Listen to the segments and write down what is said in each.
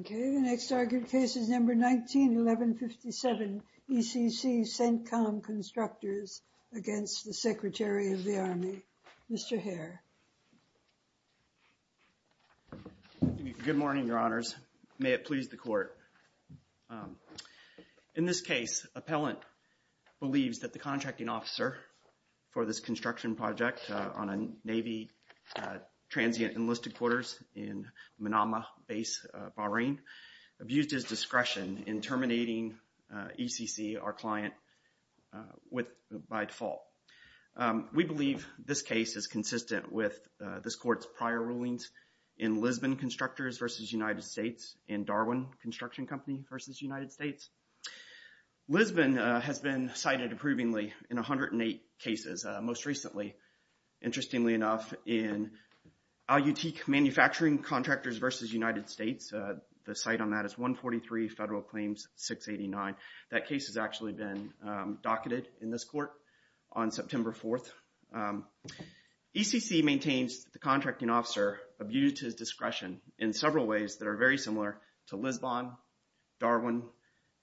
Okay, the next argued case is number 19-1157, ECC CENTCOM Constructors, LLC. against the Secretary of the Army, Mr. Hare. Good morning, Your Honors. May it please the Court. In this case, appellant believes that the contracting officer for this construction project on a Navy transient enlisted quarters in Manama Base, Bahrain, abused his discretion in terminating ECC, our client, by default. We believe this case is consistent with this Court's prior rulings in Lisbon Constructors v. United States and Darwin Construction Company v. United States. Lisbon has been cited approvingly in 108 cases. Most recently, interestingly enough, in Al Utique Manufacturing Contractors v. United States, the site on that is 143 Federal Claims 689. That case has actually been docketed in this Court on September 4th. ECC maintains the contracting officer abused his discretion in several ways that are very similar to Lisbon, Darwin,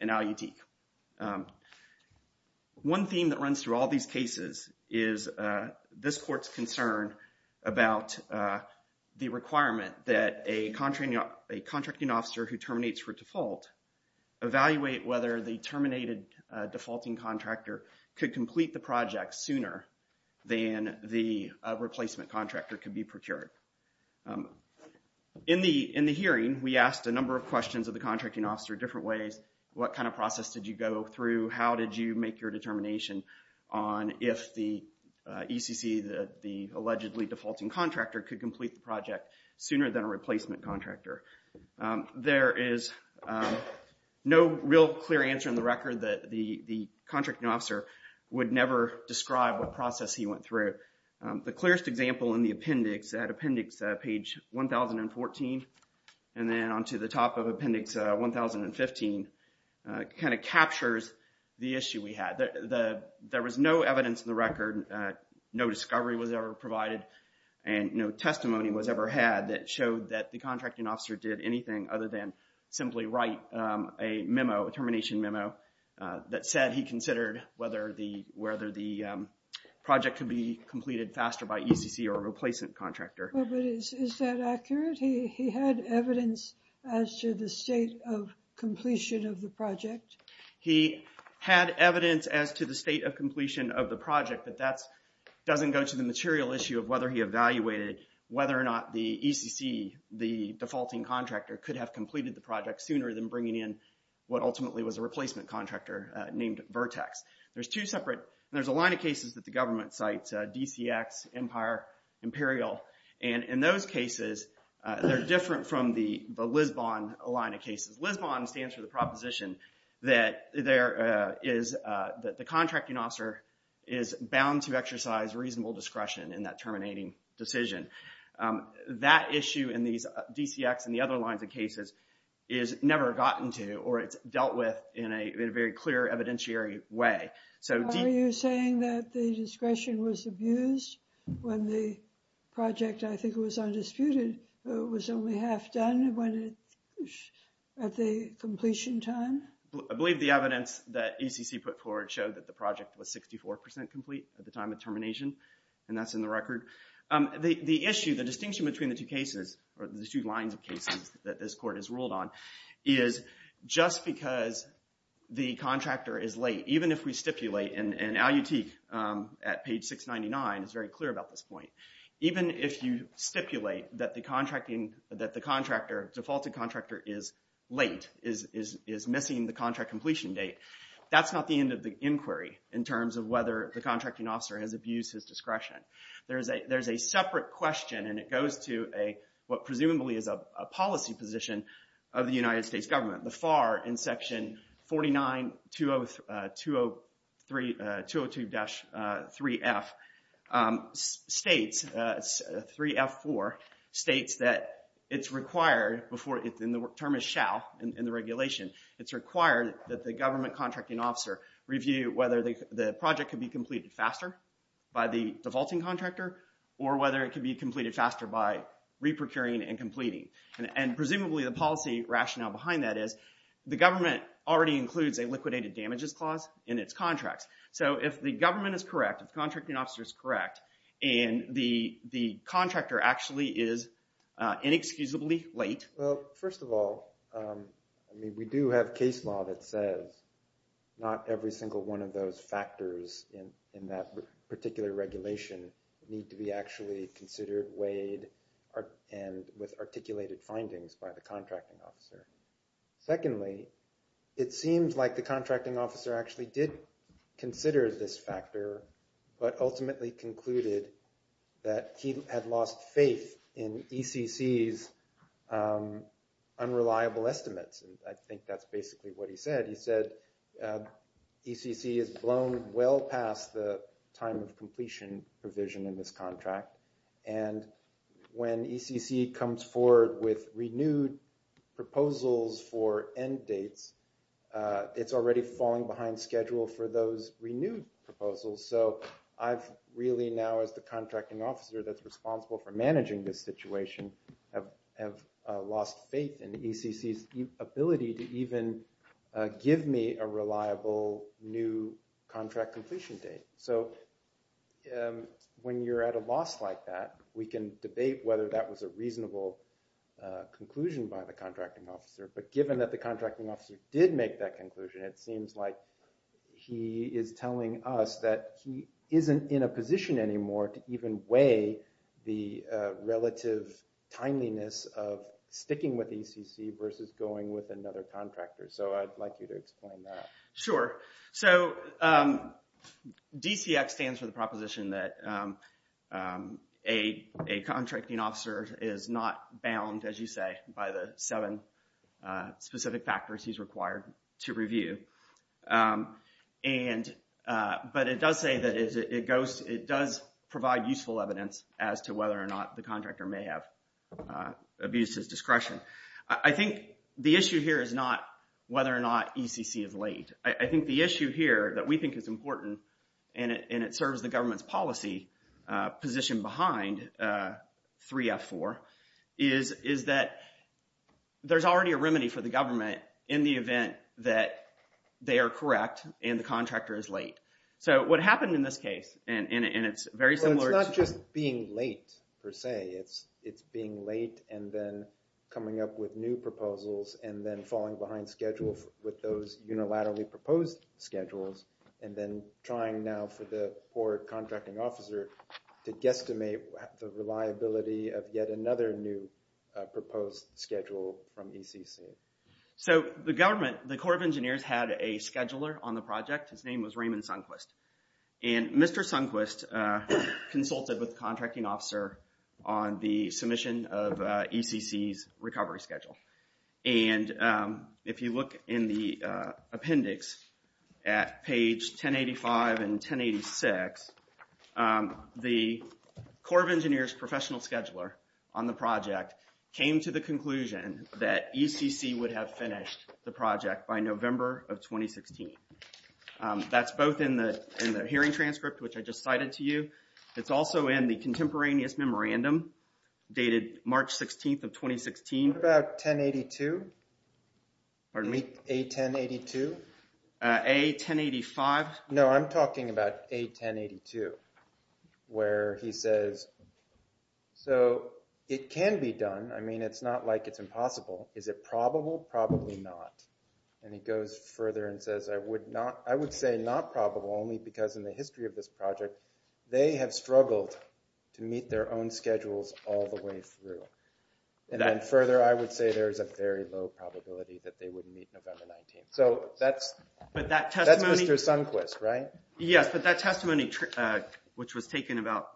and Al Utique. One theme that runs through all these cases is this Court's concern about the requirement that a contracting officer who terminates for default evaluate whether the terminated defaulting contractor could complete the project sooner than the replacement contractor could be procured. In the hearing, we asked a number of questions of the contracting officer different ways, what kind of process did you go through, how did you make your determination on if the ECC, the allegedly defaulting contractor, could complete the project sooner than a replacement contractor. There is no real clear answer in the record that the contracting officer would never describe what process he went through. The clearest example in the appendix at appendix page 1014 and then onto the top of appendix 1015 kind of captures the issue we had. There was no evidence in the record, no discovery was ever provided, and no testimony was ever had that showed that the contracting officer did anything other than simply write a memo, a termination memo, that said he considered whether the project could be completed faster by ECC or a replacement contractor. But is that accurate? He had evidence as to the state of completion of the project? He had evidence as to the state of completion of the project, but that doesn't go to the material issue of whether he evaluated whether or not the ECC, the defaulting contractor, could have completed the project sooner than bringing in what ultimately was a replacement contractor named Vertex. There's two separate, there's a line of cases that the government cites, DCX, Empire, Imperial, and in those cases, they're different from the Lisbon line of cases. Lisbon stands for the proposition that there is, that the contracting officer is bound to exercise reasonable discretion in that terminating decision. That issue in these DCX and the other lines of cases is never gotten to or it's dealt with in a very clear evidentiary way. Are you saying that the discretion was abused when the project, I think it was undisputed, was only half done at the completion time? I believe the evidence that ECC put forward showed that the project was 64% complete at the time of termination, and that's in the record. The issue, the distinction between the two cases, or the two lines of cases, that this court has ruled on is just because the contractor is late, even if we stipulate, and Allutique at page 699 is very clear about this point, even if you stipulate that the contractor, defaulted contractor, is late, is missing the contract completion date, that's not the end of the inquiry in terms of whether the contracting officer has abused his discretion. There's a separate question, and it goes to what presumably is a policy position of the United States government. The FAR in section 49-202-3F states, 3F4 states that it's required, and the term is shall in the regulation, it's required that the government contracting officer review whether the project could be completed faster by the defaulting contractor, or whether it could be completed faster by re-procuring and completing. And presumably the policy rationale behind that is, the government already includes a liquidated damages clause in its contracts. So if the government is correct, if the contracting officer is correct, and the contractor actually is inexcusably late... Well, first of all, I mean, we do have case law that says not every single one of those factors in that particular regulation need to be actually considered, weighed, and with articulated findings by the contracting officer. Secondly, it seems like the contracting officer actually did consider this factor, but ultimately concluded that he had lost faith in ECC's unreliable estimates, and I think that's basically what he said. He said ECC is blown well past the time of completion provision in this contract, and when ECC comes forward with renewed proposals for end dates, it's already falling behind schedule for those renewed proposals. So I've really now, as the contracting officer that's responsible for managing this situation, have lost faith in ECC's ability to even give me a reliable new contract completion date. So when you're at a loss like that, we can debate whether that was a reasonable conclusion by the contracting officer, but given that the contracting officer did make that conclusion, it seems like he is telling us that he isn't in a position anymore to even weigh the relative timeliness of sticking with ECC versus going with another contractor. So I'd like you to explain that. Sure. So DCX stands for the proposition that a contracting officer is not bound, as you say, by the seven specific factors he's required to review. But it does say that it does provide useful evidence as to whether or not the contractor may have abuses discretion. I think the issue here is not whether or not ECC is late. I think the issue here that we think is important, and it serves the government's policy position behind 3F4, is that there's already a remedy for the government in the event that they are correct and the contractor is late. So what happened in this case, and it's very similar to— Well, it's not just being late per se. It's being late and then coming up with new proposals and then falling behind schedule with those unilaterally proposed schedules and then trying now for the poor contracting officer to guesstimate the reliability of yet another new proposed schedule from ECC. So the government, the Corps of Engineers, had a scheduler on the project. His name was Raymond Sundquist. And Mr. Sundquist consulted with the contracting officer on the submission of ECC's recovery schedule. And if you look in the appendix at page 1085 and 1086, the Corps of Engineers professional scheduler on the project came to the conclusion that ECC would have finished the project by November of 2016. That's both in the hearing transcript, which I just cited to you. It's also in the contemporaneous memorandum dated March 16th of 2016. What about 1082? Pardon me? A1082? A1085. No, I'm talking about A1082 where he says, so it can be done. I mean, it's not like it's impossible. Is it probable? Probably not. And he goes further and says, I would say not probable only because in the history of this project, they have struggled to meet their own schedules all the way through. And then further, I would say there's a very low probability that they would meet November 19th. So that's Mr. Sundquist, right? Yes, but that testimony, which was taken about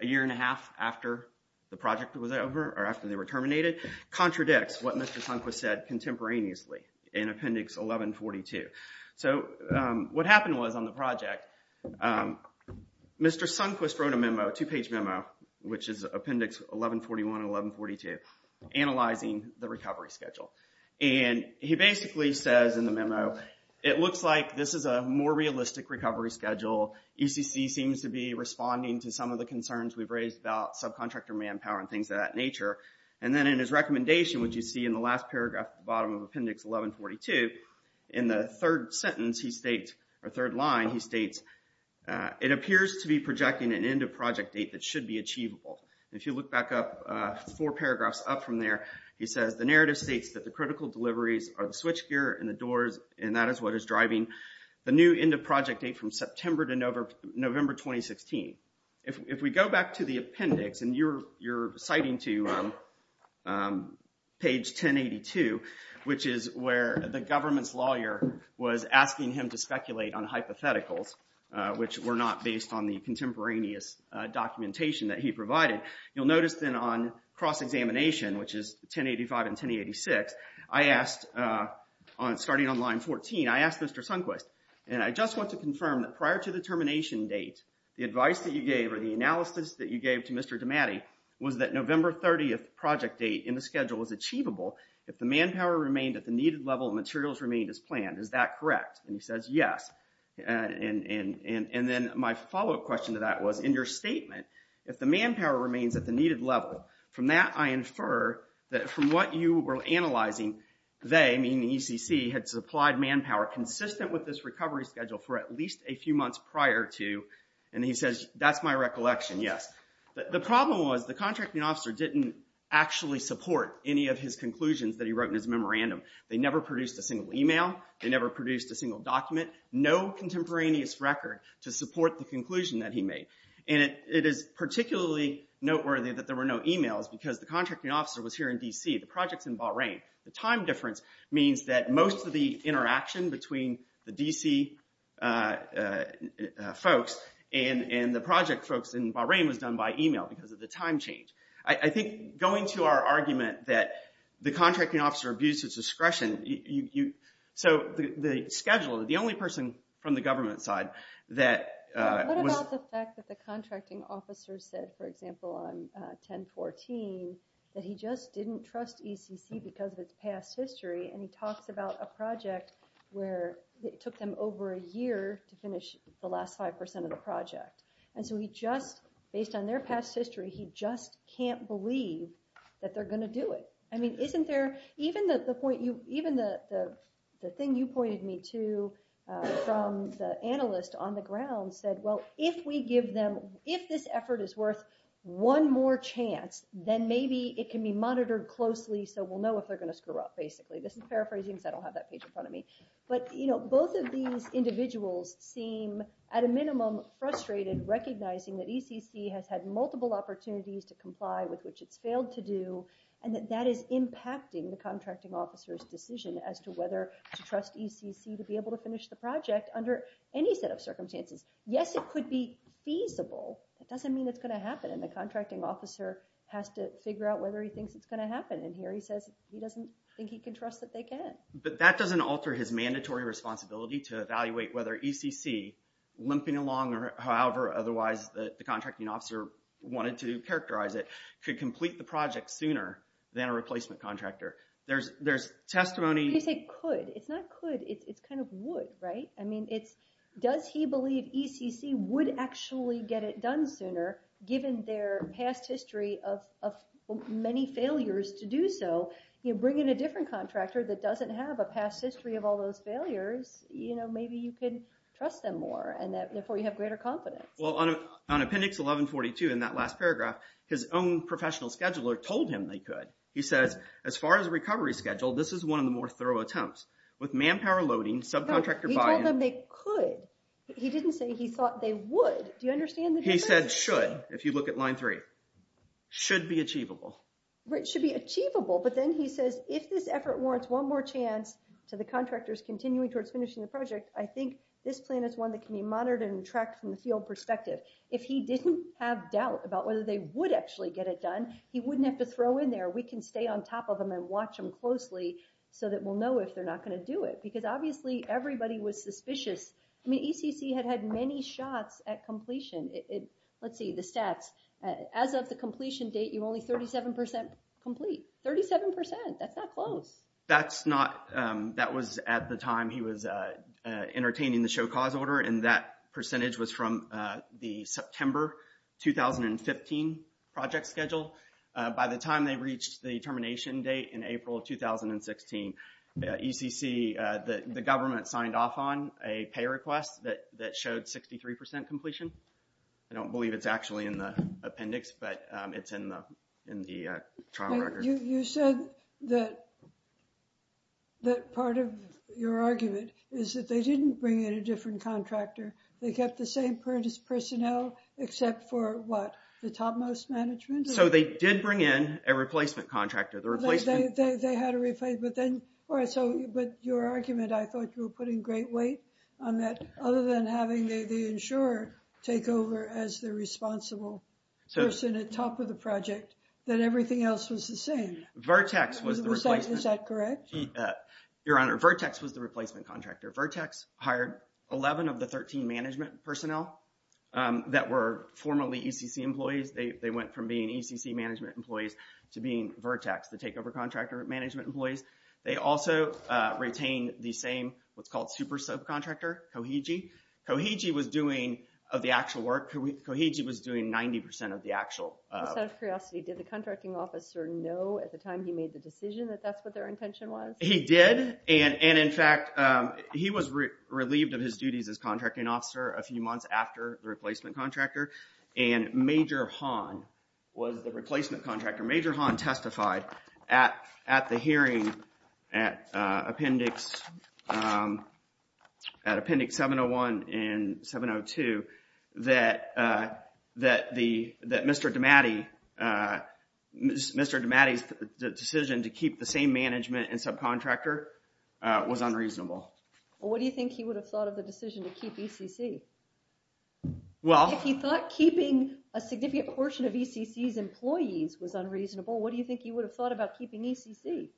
a year and a half after the project was over or after they were terminated, contradicts what Mr. Sundquist said contemporaneously in Appendix 1142. So what happened was on the project, Mr. Sundquist wrote a memo, a two-page memo, which is Appendix 1141 and 1142, analyzing the recovery schedule. And he basically says in the memo, it looks like this is a more realistic recovery schedule. UCC seems to be responding to some of the concerns we've raised about subcontractor manpower and things of that nature. And then in his recommendation, which you see in the last paragraph at the bottom of Appendix 1142, in the third sentence he states, or third line, he states, it appears to be projecting an end of project date that should be achievable. And if you look back up four paragraphs up from there, he says the narrative states that the critical deliveries are the switchgear and the doors, and that is what is driving the new end of project date from September to November 2016. If we go back to the appendix, and you're citing to page 1082, which is where the government's lawyer was asking him to speculate on hypotheticals, which were not based on the contemporaneous documentation that he provided, you'll notice then on cross-examination, which is 1085 and 1086, I asked, starting on line 14, I asked Mr. Sundquist, and I just want to confirm that prior to the termination date, the advice that you gave or the analysis that you gave to Mr. DiMatti was that November 30th project date in the schedule was achievable if the manpower remained at the needed level and materials remained as planned. Is that correct? And he says, yes. And then my follow-up question to that was, in your statement, if the manpower remains at the needed level, from that I infer that from what you were analyzing, they, meaning the ECC, had supplied manpower consistent with this recovery schedule for at least a few months prior to, and he says, that's my recollection, yes. The problem was the contracting officer didn't actually support any of his conclusions that he wrote in his memorandum. They never produced a single email. They never produced a single document. No contemporaneous record to support the conclusion that he made. And it is particularly noteworthy that there were no emails because the contracting officer was here in D.C. The project's in Bahrain. The time difference means that most of the interaction between the D.C. folks and the project folks in Bahrain was done by email because of the time change. I think going to our argument that the contracting officer abused his discretion, so the schedule, the only person from the government side that was... The contracting officer said, for example, on 1014, that he just didn't trust ECC because of its past history, and he talks about a project where it took them over a year to finish the last 5% of the project. And so he just, based on their past history, he just can't believe that they're going to do it. I mean, isn't there... Even the thing you pointed me to from the analyst on the ground said, well, if we give them... If this effort is worth one more chance, then maybe it can be monitored closely so we'll know if they're going to screw up, basically. This is paraphrasing because I don't have that page in front of me. But both of these individuals seem, at a minimum, frustrated, recognizing that ECC has had multiple opportunities to comply with which it's failed to do, and that that is impacting the contracting officer's decision as to whether to trust ECC to be able to finish the project under any set of circumstances. Yes, it could be feasible. That doesn't mean it's going to happen, and the contracting officer has to figure out whether he thinks it's going to happen. And here he says he doesn't think he can trust that they can. But that doesn't alter his mandatory responsibility to evaluate whether ECC, limping along or however otherwise the contracting officer wanted to characterize it, could complete the project sooner than a replacement contractor. There's testimony... When you say could, it's not could. It's kind of would, right? I mean, does he believe ECC would actually get it done sooner, given their past history of many failures to do so? You bring in a different contractor that doesn't have a past history of all those failures, maybe you can trust them more, and therefore you have greater confidence. Well, on Appendix 1142, in that last paragraph, his own professional scheduler told him they could. He says, as far as recovery schedule, this is one of the more thorough attempts. With manpower loading, subcontractor buy-in... He told them they could. He didn't say he thought they would. Do you understand the difference? He said should, if you look at Line 3. Should be achievable. Should be achievable, but then he says, if this effort warrants one more chance to the contractors continuing towards finishing the project, I think this plan is one that can be monitored and tracked from a field perspective. If he didn't have doubt about whether they would actually get it done, he wouldn't have to throw in there. We can stay on top of them and watch them closely so that we'll know if they're not gonna do it. Because obviously, everybody was suspicious. I mean, ECC had had many shots at completion. Let's see, the stats. As of the completion date, you're only 37% complete. 37%, that's not close. That's not... That was at the time he was entertaining the show cause order, and that percentage was from the September 2015 project schedule. By the time they reached the termination date in April 2016, ECC, the government signed off on a pay request that showed 63% completion. I don't believe it's actually in the appendix, but it's in the trial record. You said that part of your argument is that they didn't bring in a different contractor. They kept the same personnel, except for what, the topmost management? So they did bring in a replacement contractor. They had a replacement, but then... But your argument, I thought you were putting great weight on that, other than having the insurer take over as the responsible person at top of the project, that everything else was the same. Vertex was the replacement. Is that correct? Your Honor, Vertex was the replacement contractor. Vertex hired 11 of the 13 management personnel that were formerly ECC employees. They went from being ECC management employees to being Vertex, the takeover contractor management employees. They also retained the same, what's called super subcontractor, Koheiji. Koheiji was doing the actual work. Koheiji was doing 90% of the actual... Just out of curiosity, did the contracting officer know at the time he made the decision that that's what their intention was? He did, and in fact, he was relieved of his duties as contracting officer a few months after the replacement contractor, and Major Hahn was the replacement contractor. Major Hahn testified at the hearing at Appendix 701 and 702 that Mr. DiMatti's decision to keep the same management and subcontractor was unreasonable. What do you think he would have thought of the decision to keep ECC? If he thought keeping a significant portion of ECC's employees was unreasonable, what do you think he would have thought about keeping ECC?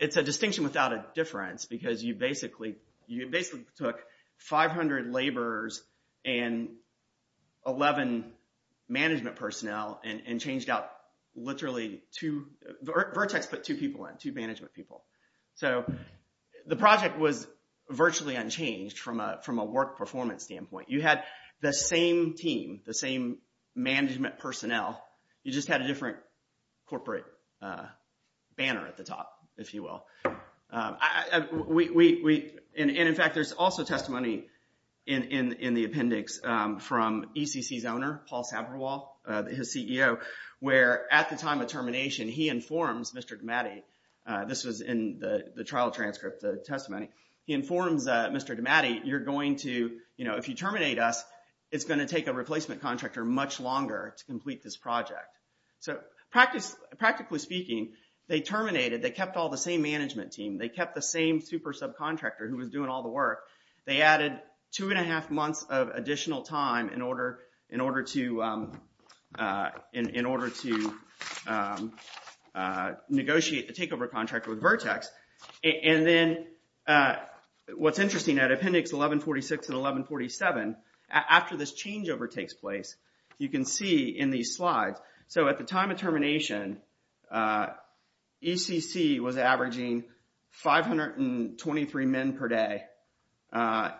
It's a distinction without a difference because you basically took 500 laborers and 11 management personnel and changed out literally two... Vertex put two people in, two management people. The project was virtually unchanged from a work performance standpoint. You had the same team, the same management personnel, you just had a different corporate banner at the top, if you will. In fact, there's also testimony in the appendix from ECC's owner, Paul Sabrewall, his CEO, where at the time of termination, he informs Mr. DiMatti... This was in the trial transcript, the testimony. He informs Mr. DiMatti, if you terminate us, it's going to take a replacement contractor much longer to complete this project. Practically speaking, they terminated, they kept all the same management team, they kept the same super subcontractor who was doing all the work. They added two and a half months of additional time in order to negotiate the takeover contract with Vertex. And then what's interesting, at appendix 1146 and 1147, after this changeover takes place, you can see in these slides, so at the time of termination, ECC was averaging 523 men per day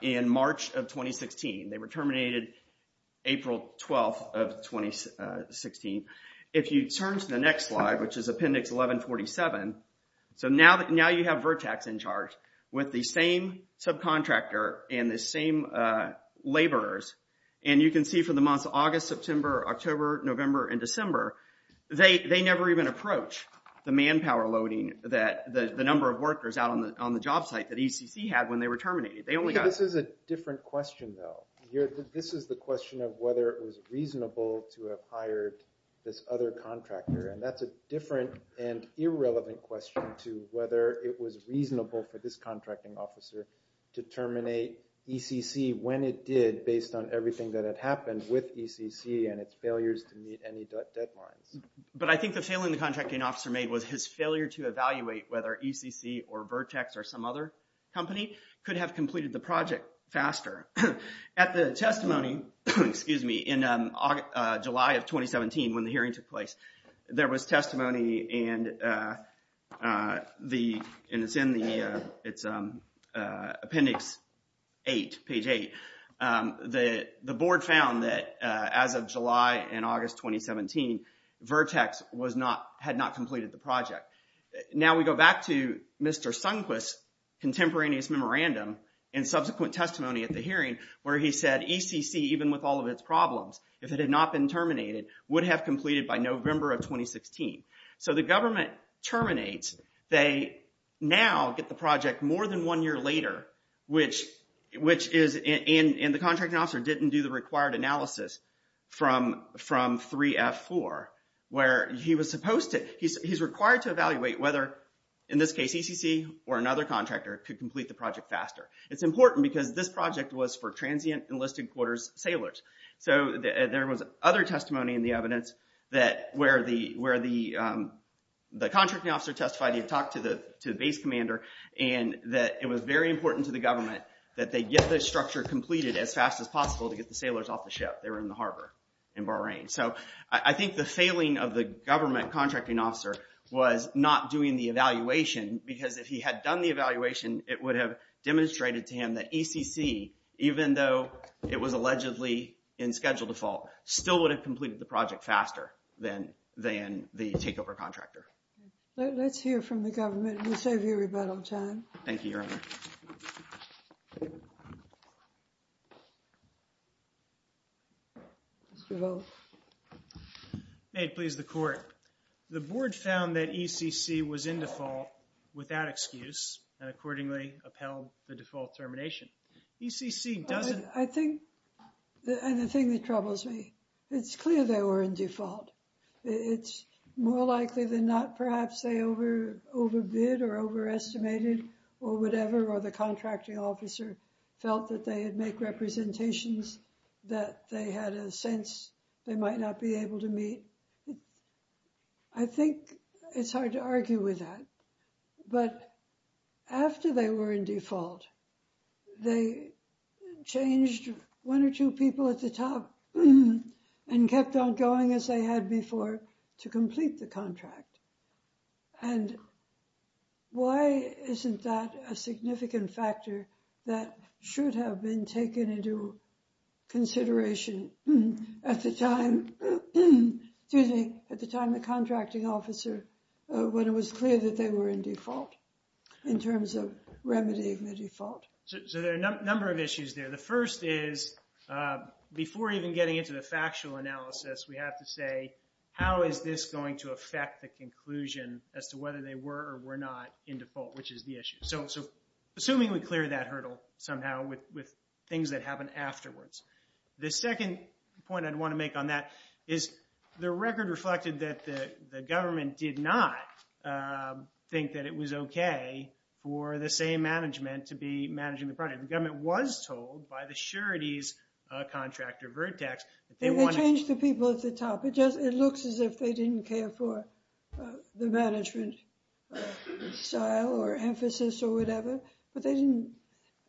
in March of 2016. They were terminated April 12th of 2016. If you turn to the next slide, which is appendix 1147, so now you have Vertex in charge with the same subcontractor and the same laborers. And you can see for the months of August, September, October, November, and December, they never even approached the manpower loading that the number of workers out on the job site that ECC had when they were terminated. This is a different question, though. This is the question of whether it was reasonable to have hired this other contractor, and that's a different and irrelevant question to whether it was reasonable for this contracting officer to terminate ECC when it did based on everything that had happened with ECC and its failures to meet any deadlines. But I think the failing the contracting officer made was his failure to evaluate whether ECC or Vertex or some other company could have completed the project faster. At the testimony, excuse me, in July of 2017 when the hearing took place, there was testimony and it's in appendix 8, page 8. The board found that as of July and August 2017, Vertex had not completed the project. Now we go back to Mr. Sunquist's contemporaneous memorandum and subsequent testimony at the hearing where he said ECC, even with all of its problems, if it had not been terminated, would have completed by November of 2016. So the government terminates. They now get the project more than one year later, which is, and the contracting officer didn't do the required analysis from 3F4, where he's required to evaluate whether, in this case, ECC or another contractor could complete the project faster. It's important because this project was for transient enlisted quarters sailors. So there was other testimony in the evidence where the contracting officer testified he had talked to the base commander and that it was very important to the government that they get this structure completed They were in the harbor in Bahrain. So I think the failing of the government contracting officer was not doing the evaluation because if he had done the evaluation, it would have demonstrated to him that ECC, even though it was allegedly in schedule default, still would have completed the project faster than the takeover contractor. Let's hear from the government. We'll save you rebuttal time. Thank you, Your Honor. Mr. Volk. May it please the court. The board found that ECC was in default without excuse and accordingly upheld the default termination. ECC doesn't... I think, and the thing that troubles me, it's clear they were in default. It's more likely than not, perhaps, they overbid or overestimated or whatever, or the contracting officer felt that they had make representations that they had a sense they might not be able to meet. I think it's hard to argue with that. But after they were in default, they changed one or two people at the top and kept on going as they had before to complete the contract. And why isn't that a significant factor that should have been taken into consideration at the time the contracting officer, when it was clear that they were in default in terms of remedying the default? So there are a number of issues there. The first is, before even getting into the factual analysis, we have to say, how is this going to affect the conclusion as to whether they were or were not in default, which is the issue. So assuming we clear that hurdle somehow with things that happen afterwards. The second point I'd want to make on that is the record reflected that the government did not think that it was okay for the same management to be managing the project. The government was told by the surety's contractor, Vertex... They changed the people at the top. It looks as if they didn't care for the management style or emphasis or whatever. But they didn't,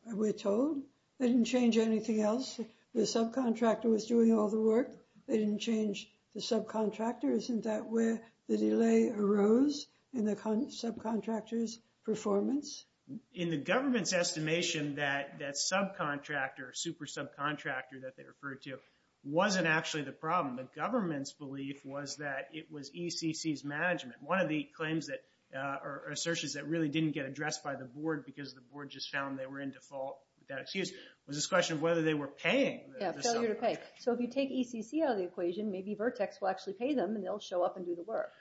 we're told, they didn't change anything else. The subcontractor was doing all the work. They didn't change the subcontractor. Isn't that where the delay arose in the subcontractor's performance? In the government's estimation, that subcontractor, super subcontractor that they referred to, wasn't actually the problem. The government's belief was that it was ECC's management. One of the claims or assertions that really didn't get addressed by the board because the board just found they were in default, with that excuse, was this question of whether they were paying the subcontractor. Yeah, failure to pay. So if you take ECC out of the equation, maybe Vertex will actually pay them and they'll show up and do the work.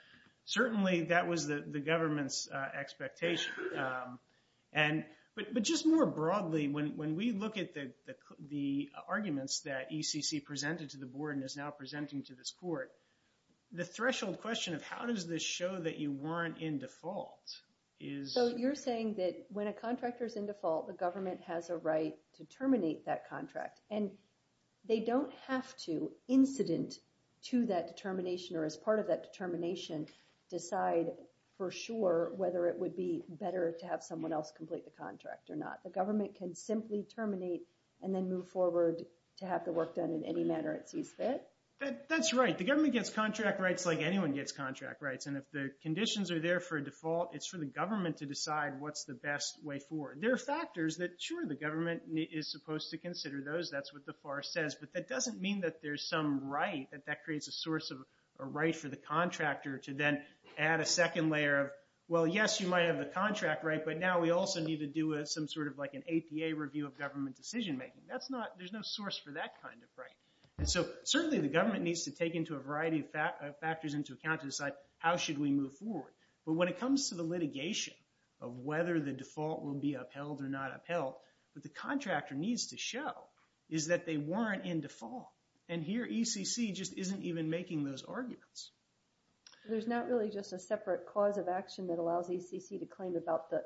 Certainly, that was the government's expectation. But just more broadly, when we look at the arguments that ECC presented to the board and is now presenting to this court, the threshold question of how does this show that you weren't in default is... So you're saying that when a contractor's in default, the government has a right to terminate that contract. And they don't have to, incident to that determination or as part of that determination, decide for sure whether it would be better to have someone else complete the contract or not. The government can simply terminate and then move forward to have the work done in any manner it sees fit? That's right. The government gets contract rights like anyone gets contract rights. And if the conditions are there for a default, it's for the government to decide what's the best way forward. There are factors that, sure, the government is supposed to consider those. That's what the FAR says. But that doesn't mean that there's some right, that that creates a source of a right for the contractor to then add a second layer of, well, yes, you might have the contract right, but now we also need to do some sort of, like, an APA review of government decision-making. That's not, there's no source for that kind of right. And so certainly the government needs to take into a variety of factors into account to decide how should we move forward. But when it comes to the litigation of whether the default will be upheld or not upheld, what the contractor needs to show is that they weren't in default. And here ECC just isn't even making those arguments. There's not really just a separate cause of action that allows ECC to claim about the,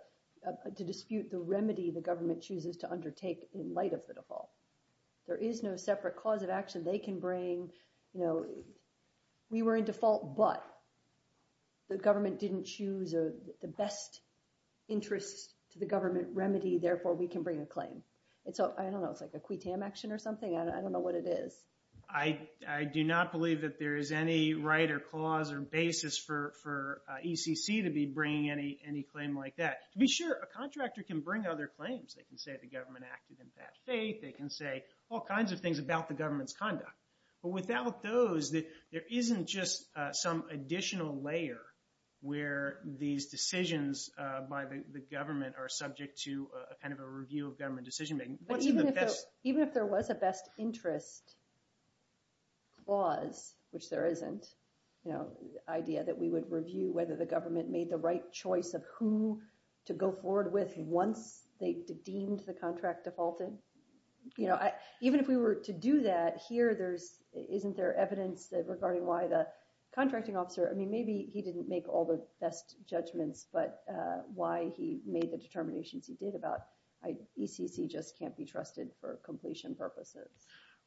to dispute the remedy the government chooses to undertake in light of the default. There is no separate cause of action they can bring. You know, we were in default, but the government didn't choose the best interest to the government remedy, therefore we can bring a claim. And so, I don't know, it's like a quitam action or something. I don't know what it is. I do not believe that there is any right or clause or basis for ECC to be bringing any claim like that. To be sure, a contractor can bring other claims. They can say the government acted in bad faith. They can say all kinds of things about the government's conduct. But without those, there isn't just some additional layer where these decisions by the government are subject to a kind of a review of government decision-making. But even if there was a best interest clause, which there isn't, you know, idea that we would review whether the government made the right choice of who to go forward with once they deemed the contract defaulted. You know, even if we were to do that, here there's, isn't there evidence regarding why the contracting officer, I mean, maybe he didn't make all the best judgments, but why he made the determinations he did about ECC just can't be trusted for completion purposes.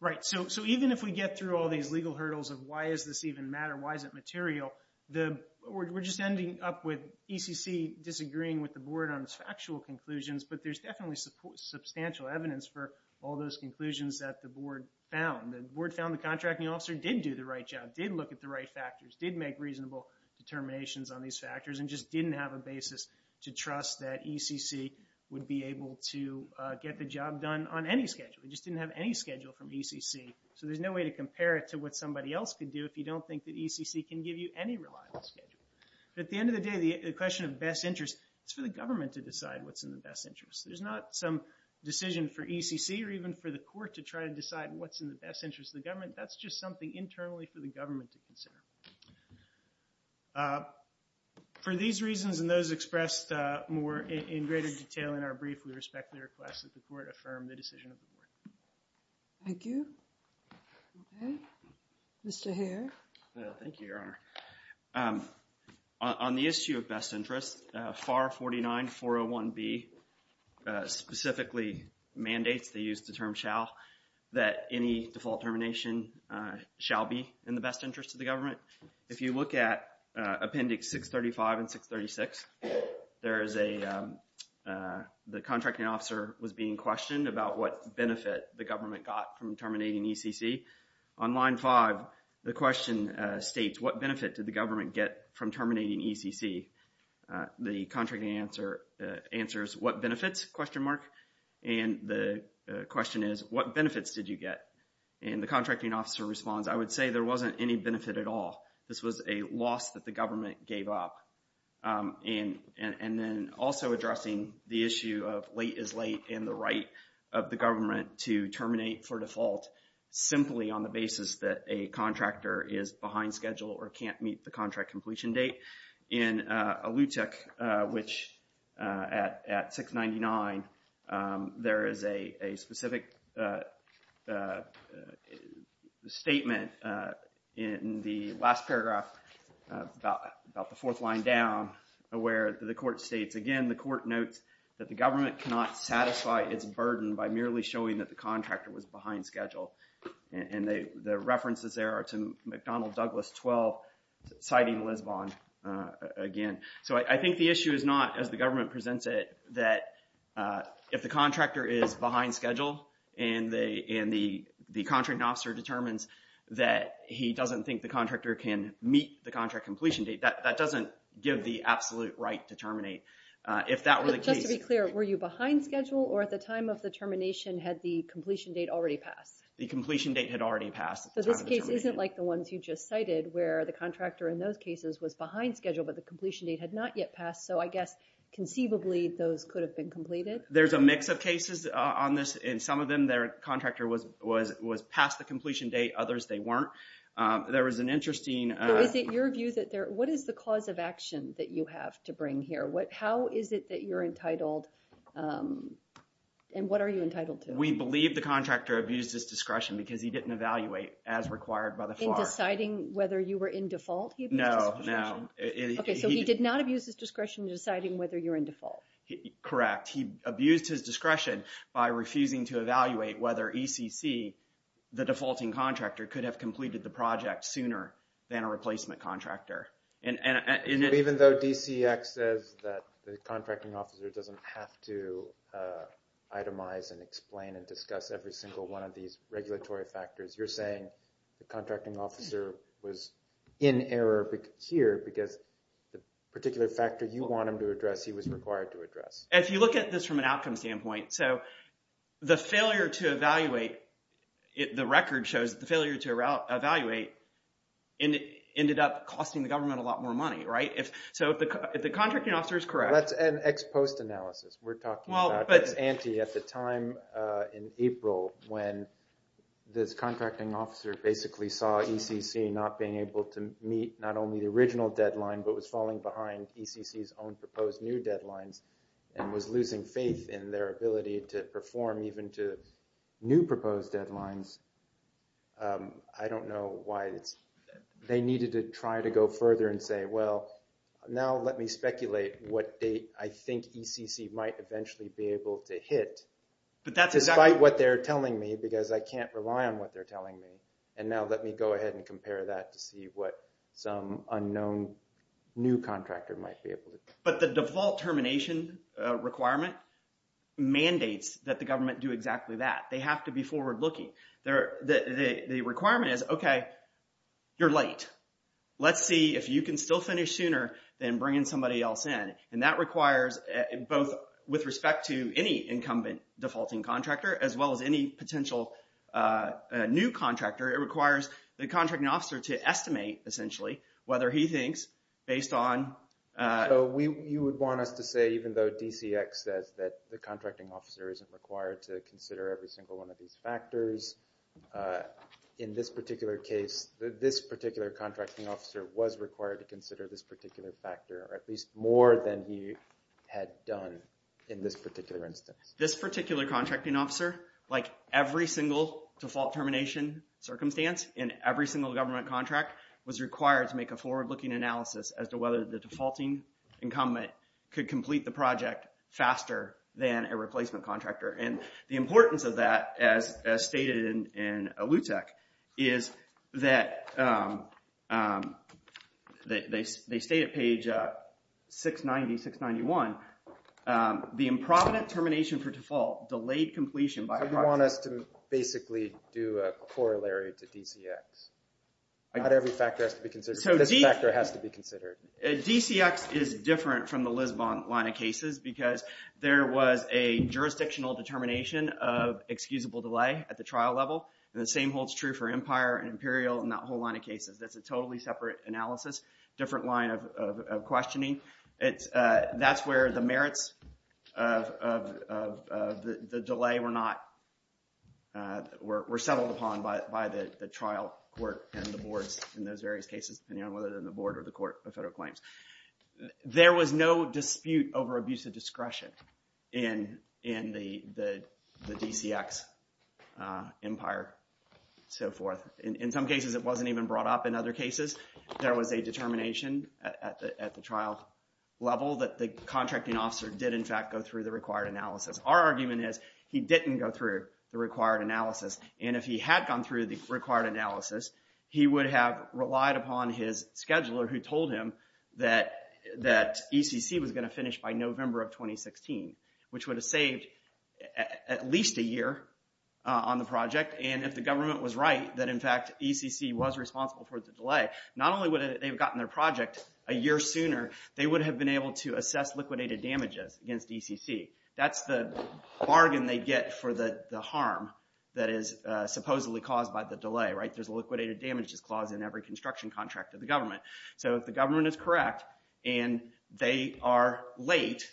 Right, so even if we get through all these legal hurdles of why does this even matter, why is it material, we're just ending up with ECC disagreeing with the board on its factual conclusions, but there's definitely substantial evidence for all those conclusions that the board found. The board found the contracting officer did do the right job, did look at the right factors, did make reasonable determinations on these factors, and just didn't have a basis to trust that ECC would be able to get the job done on any schedule. It just didn't have any schedule from ECC, so there's no way to compare it to what somebody else could do if you don't think that ECC can give you any reliable schedule. But at the end of the day, the question of best interest, it's for the government to decide what's in the best interest. There's not some decision for ECC or even for the court to try to decide what's in the best interest of the government. That's just something internally for the government to consider. For these reasons and those expressed more in greater detail in our brief, we respect the request that the court affirm the decision of the board. Thank you. Mr. Hare. Thank you, Your Honor. On the issue of best interest, FAR 49-401B specifically mandates, they use the term shall, that any default termination shall be in the best interest of the government. If you look at Appendix 635 and 636, there is a, the contracting officer was being questioned about what benefit the government got from terminating ECC. On line 5, the question states, what benefit did the government get from terminating ECC? The contracting answer answers, what benefits? And the question is, what benefits did you get? And the contracting officer responds, I would say there wasn't any benefit at all. This was a loss that the government gave up. And then also addressing the issue of late is late and the right of the government to terminate for default simply on the basis that a contractor is behind schedule or can't meet the contract completion date. In Alutek, which at 699, there is a specific statement in the last paragraph about the fourth line down where the court states, again, the court notes that the government cannot satisfy its burden by merely showing that the contractor was behind schedule. And the references there are to McDonnell Douglas 12, citing Lisbon again. So I think the issue is not, as the government presents it, that if the contractor is behind schedule and the contracting officer determines that he doesn't think the contractor can meet the contract completion date, that doesn't give the absolute right to terminate. Just to be clear, were you behind schedule or at the time of the termination had the completion date already passed? The completion date had already passed. So this case isn't like the ones you just cited where the contractor in those cases was behind schedule but the completion date had not yet passed. So I guess conceivably those could have been completed. There's a mix of cases on this and some of them their contractor was past the completion date, others they weren't. There was an interesting... So is it your view that there, what is the cause of action that you have to bring here? How is it that you're entitled and what are you entitled to? We believe the contractor abused his discretion because he didn't evaluate as required by the FAR. In deciding whether you were in default, he abused his discretion? No, no. Okay, so he did not abuse his discretion in deciding whether you're in default. Correct. He abused his discretion by refusing to evaluate whether ECC, the defaulting contractor, could have completed the project sooner than a replacement contractor. Even though DCX says that the contracting officer doesn't have to itemize and explain and discuss every single one of these regulatory factors, you're saying the contracting officer was in error here because the particular factor you want him to address he was required to address. If you look at this from an outcome standpoint, so the failure to evaluate, the record shows the failure to evaluate ended up costing the government a lot more money, right? So if the contracting officer is correct... That's an ex-post analysis. We're talking about this ante at the time in April when this contracting officer basically saw ECC not being able to meet not only the original deadline but was falling behind ECC's own proposed new deadlines and was losing faith in their ability to perform even to new proposed deadlines, I don't know why they needed to try to go further and say, well, now let me speculate what date I think ECC might eventually be able to hit despite what they're telling me because I can't rely on what they're telling me. And now let me go ahead and compare that to see what some unknown new contractor might be able to do. But the default termination requirement mandates that the government do exactly that. They have to be forward-looking. The requirement is, okay, you're late. Let's see if you can still finish sooner than bringing somebody else in. And that requires both with respect to any incumbent defaulting contractor as well as any potential new contractor, it requires the contracting officer to estimate, essentially, whether he thinks based on... So you would want us to say even though DCX says that the contracting officer isn't required to consider every single one of these factors, in this particular case, this particular contracting officer was required to consider this particular factor or at least more than he had done in this particular instance. This particular contracting officer, like every single default termination circumstance in every single government contract, was required to make a forward-looking analysis as to whether the defaulting incumbent could complete the project faster than a replacement contractor. And the importance of that, as stated in LUTEC, is that they state at page 690, 691, the improvident termination for default delayed completion by... So you want us to basically do a corollary to DCX. Not every factor has to be considered, but this factor has to be considered. DCX is different from the Lisbon line of cases because there was a jurisdictional determination of excusable delay at the trial level, and the same holds true for Empire and Imperial and that whole line of cases. That's a totally separate analysis, different line of questioning. That's where the merits of the delay were settled upon by the trial court and the boards in those various cases, whether they're the board or the court of federal claims. There was no dispute over abuse of discretion in the DCX, Empire, so forth. In some cases, it wasn't even brought up. In other cases, there was a determination at the trial level that the contracting officer did in fact go through the required analysis. Our argument is he didn't go through the required analysis, and if he had gone through the required analysis, he would have relied upon his scheduler who told him that ECC was going to finish by November of 2016, which would have saved at least a year on the project, and if the government was right, that in fact ECC was responsible for the delay, not only would they have gotten their project a year sooner, they would have been able to assess liquidated damages against ECC. That's the bargain they get for the harm that is supposedly caused by the delay. There's a liquidated damages clause in every construction contract of the government. So if the government is correct, and they are late,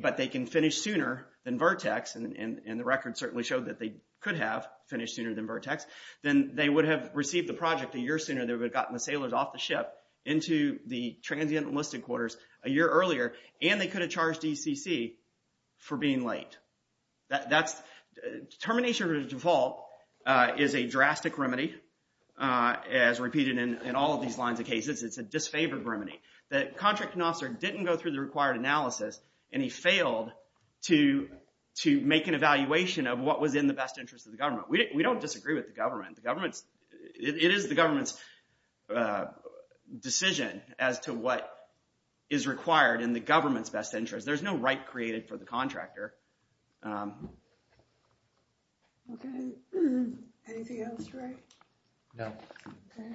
but they can finish sooner than Vertex, and the record certainly showed that they could have finished sooner than Vertex, then they would have received the project a year sooner and they would have gotten the sailors off the ship into the transient enlisted quarters a year earlier, and they could have charged ECC for being late. Determination of a default is a drastic remedy. As repeated in all of these lines of cases, it's a disfavored remedy. The contracting officer didn't go through the required analysis, and he failed to make an evaluation of what was in the best interest of the government. We don't disagree with the government. It is the government's decision as to what is required in the government's best interest. There's no right created for the contractor. Okay. Anything else, Ray? No. Okay.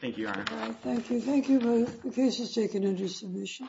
Thank you, Your Honor. Thank you. Thank you both. The case is taken under submission. Thank you.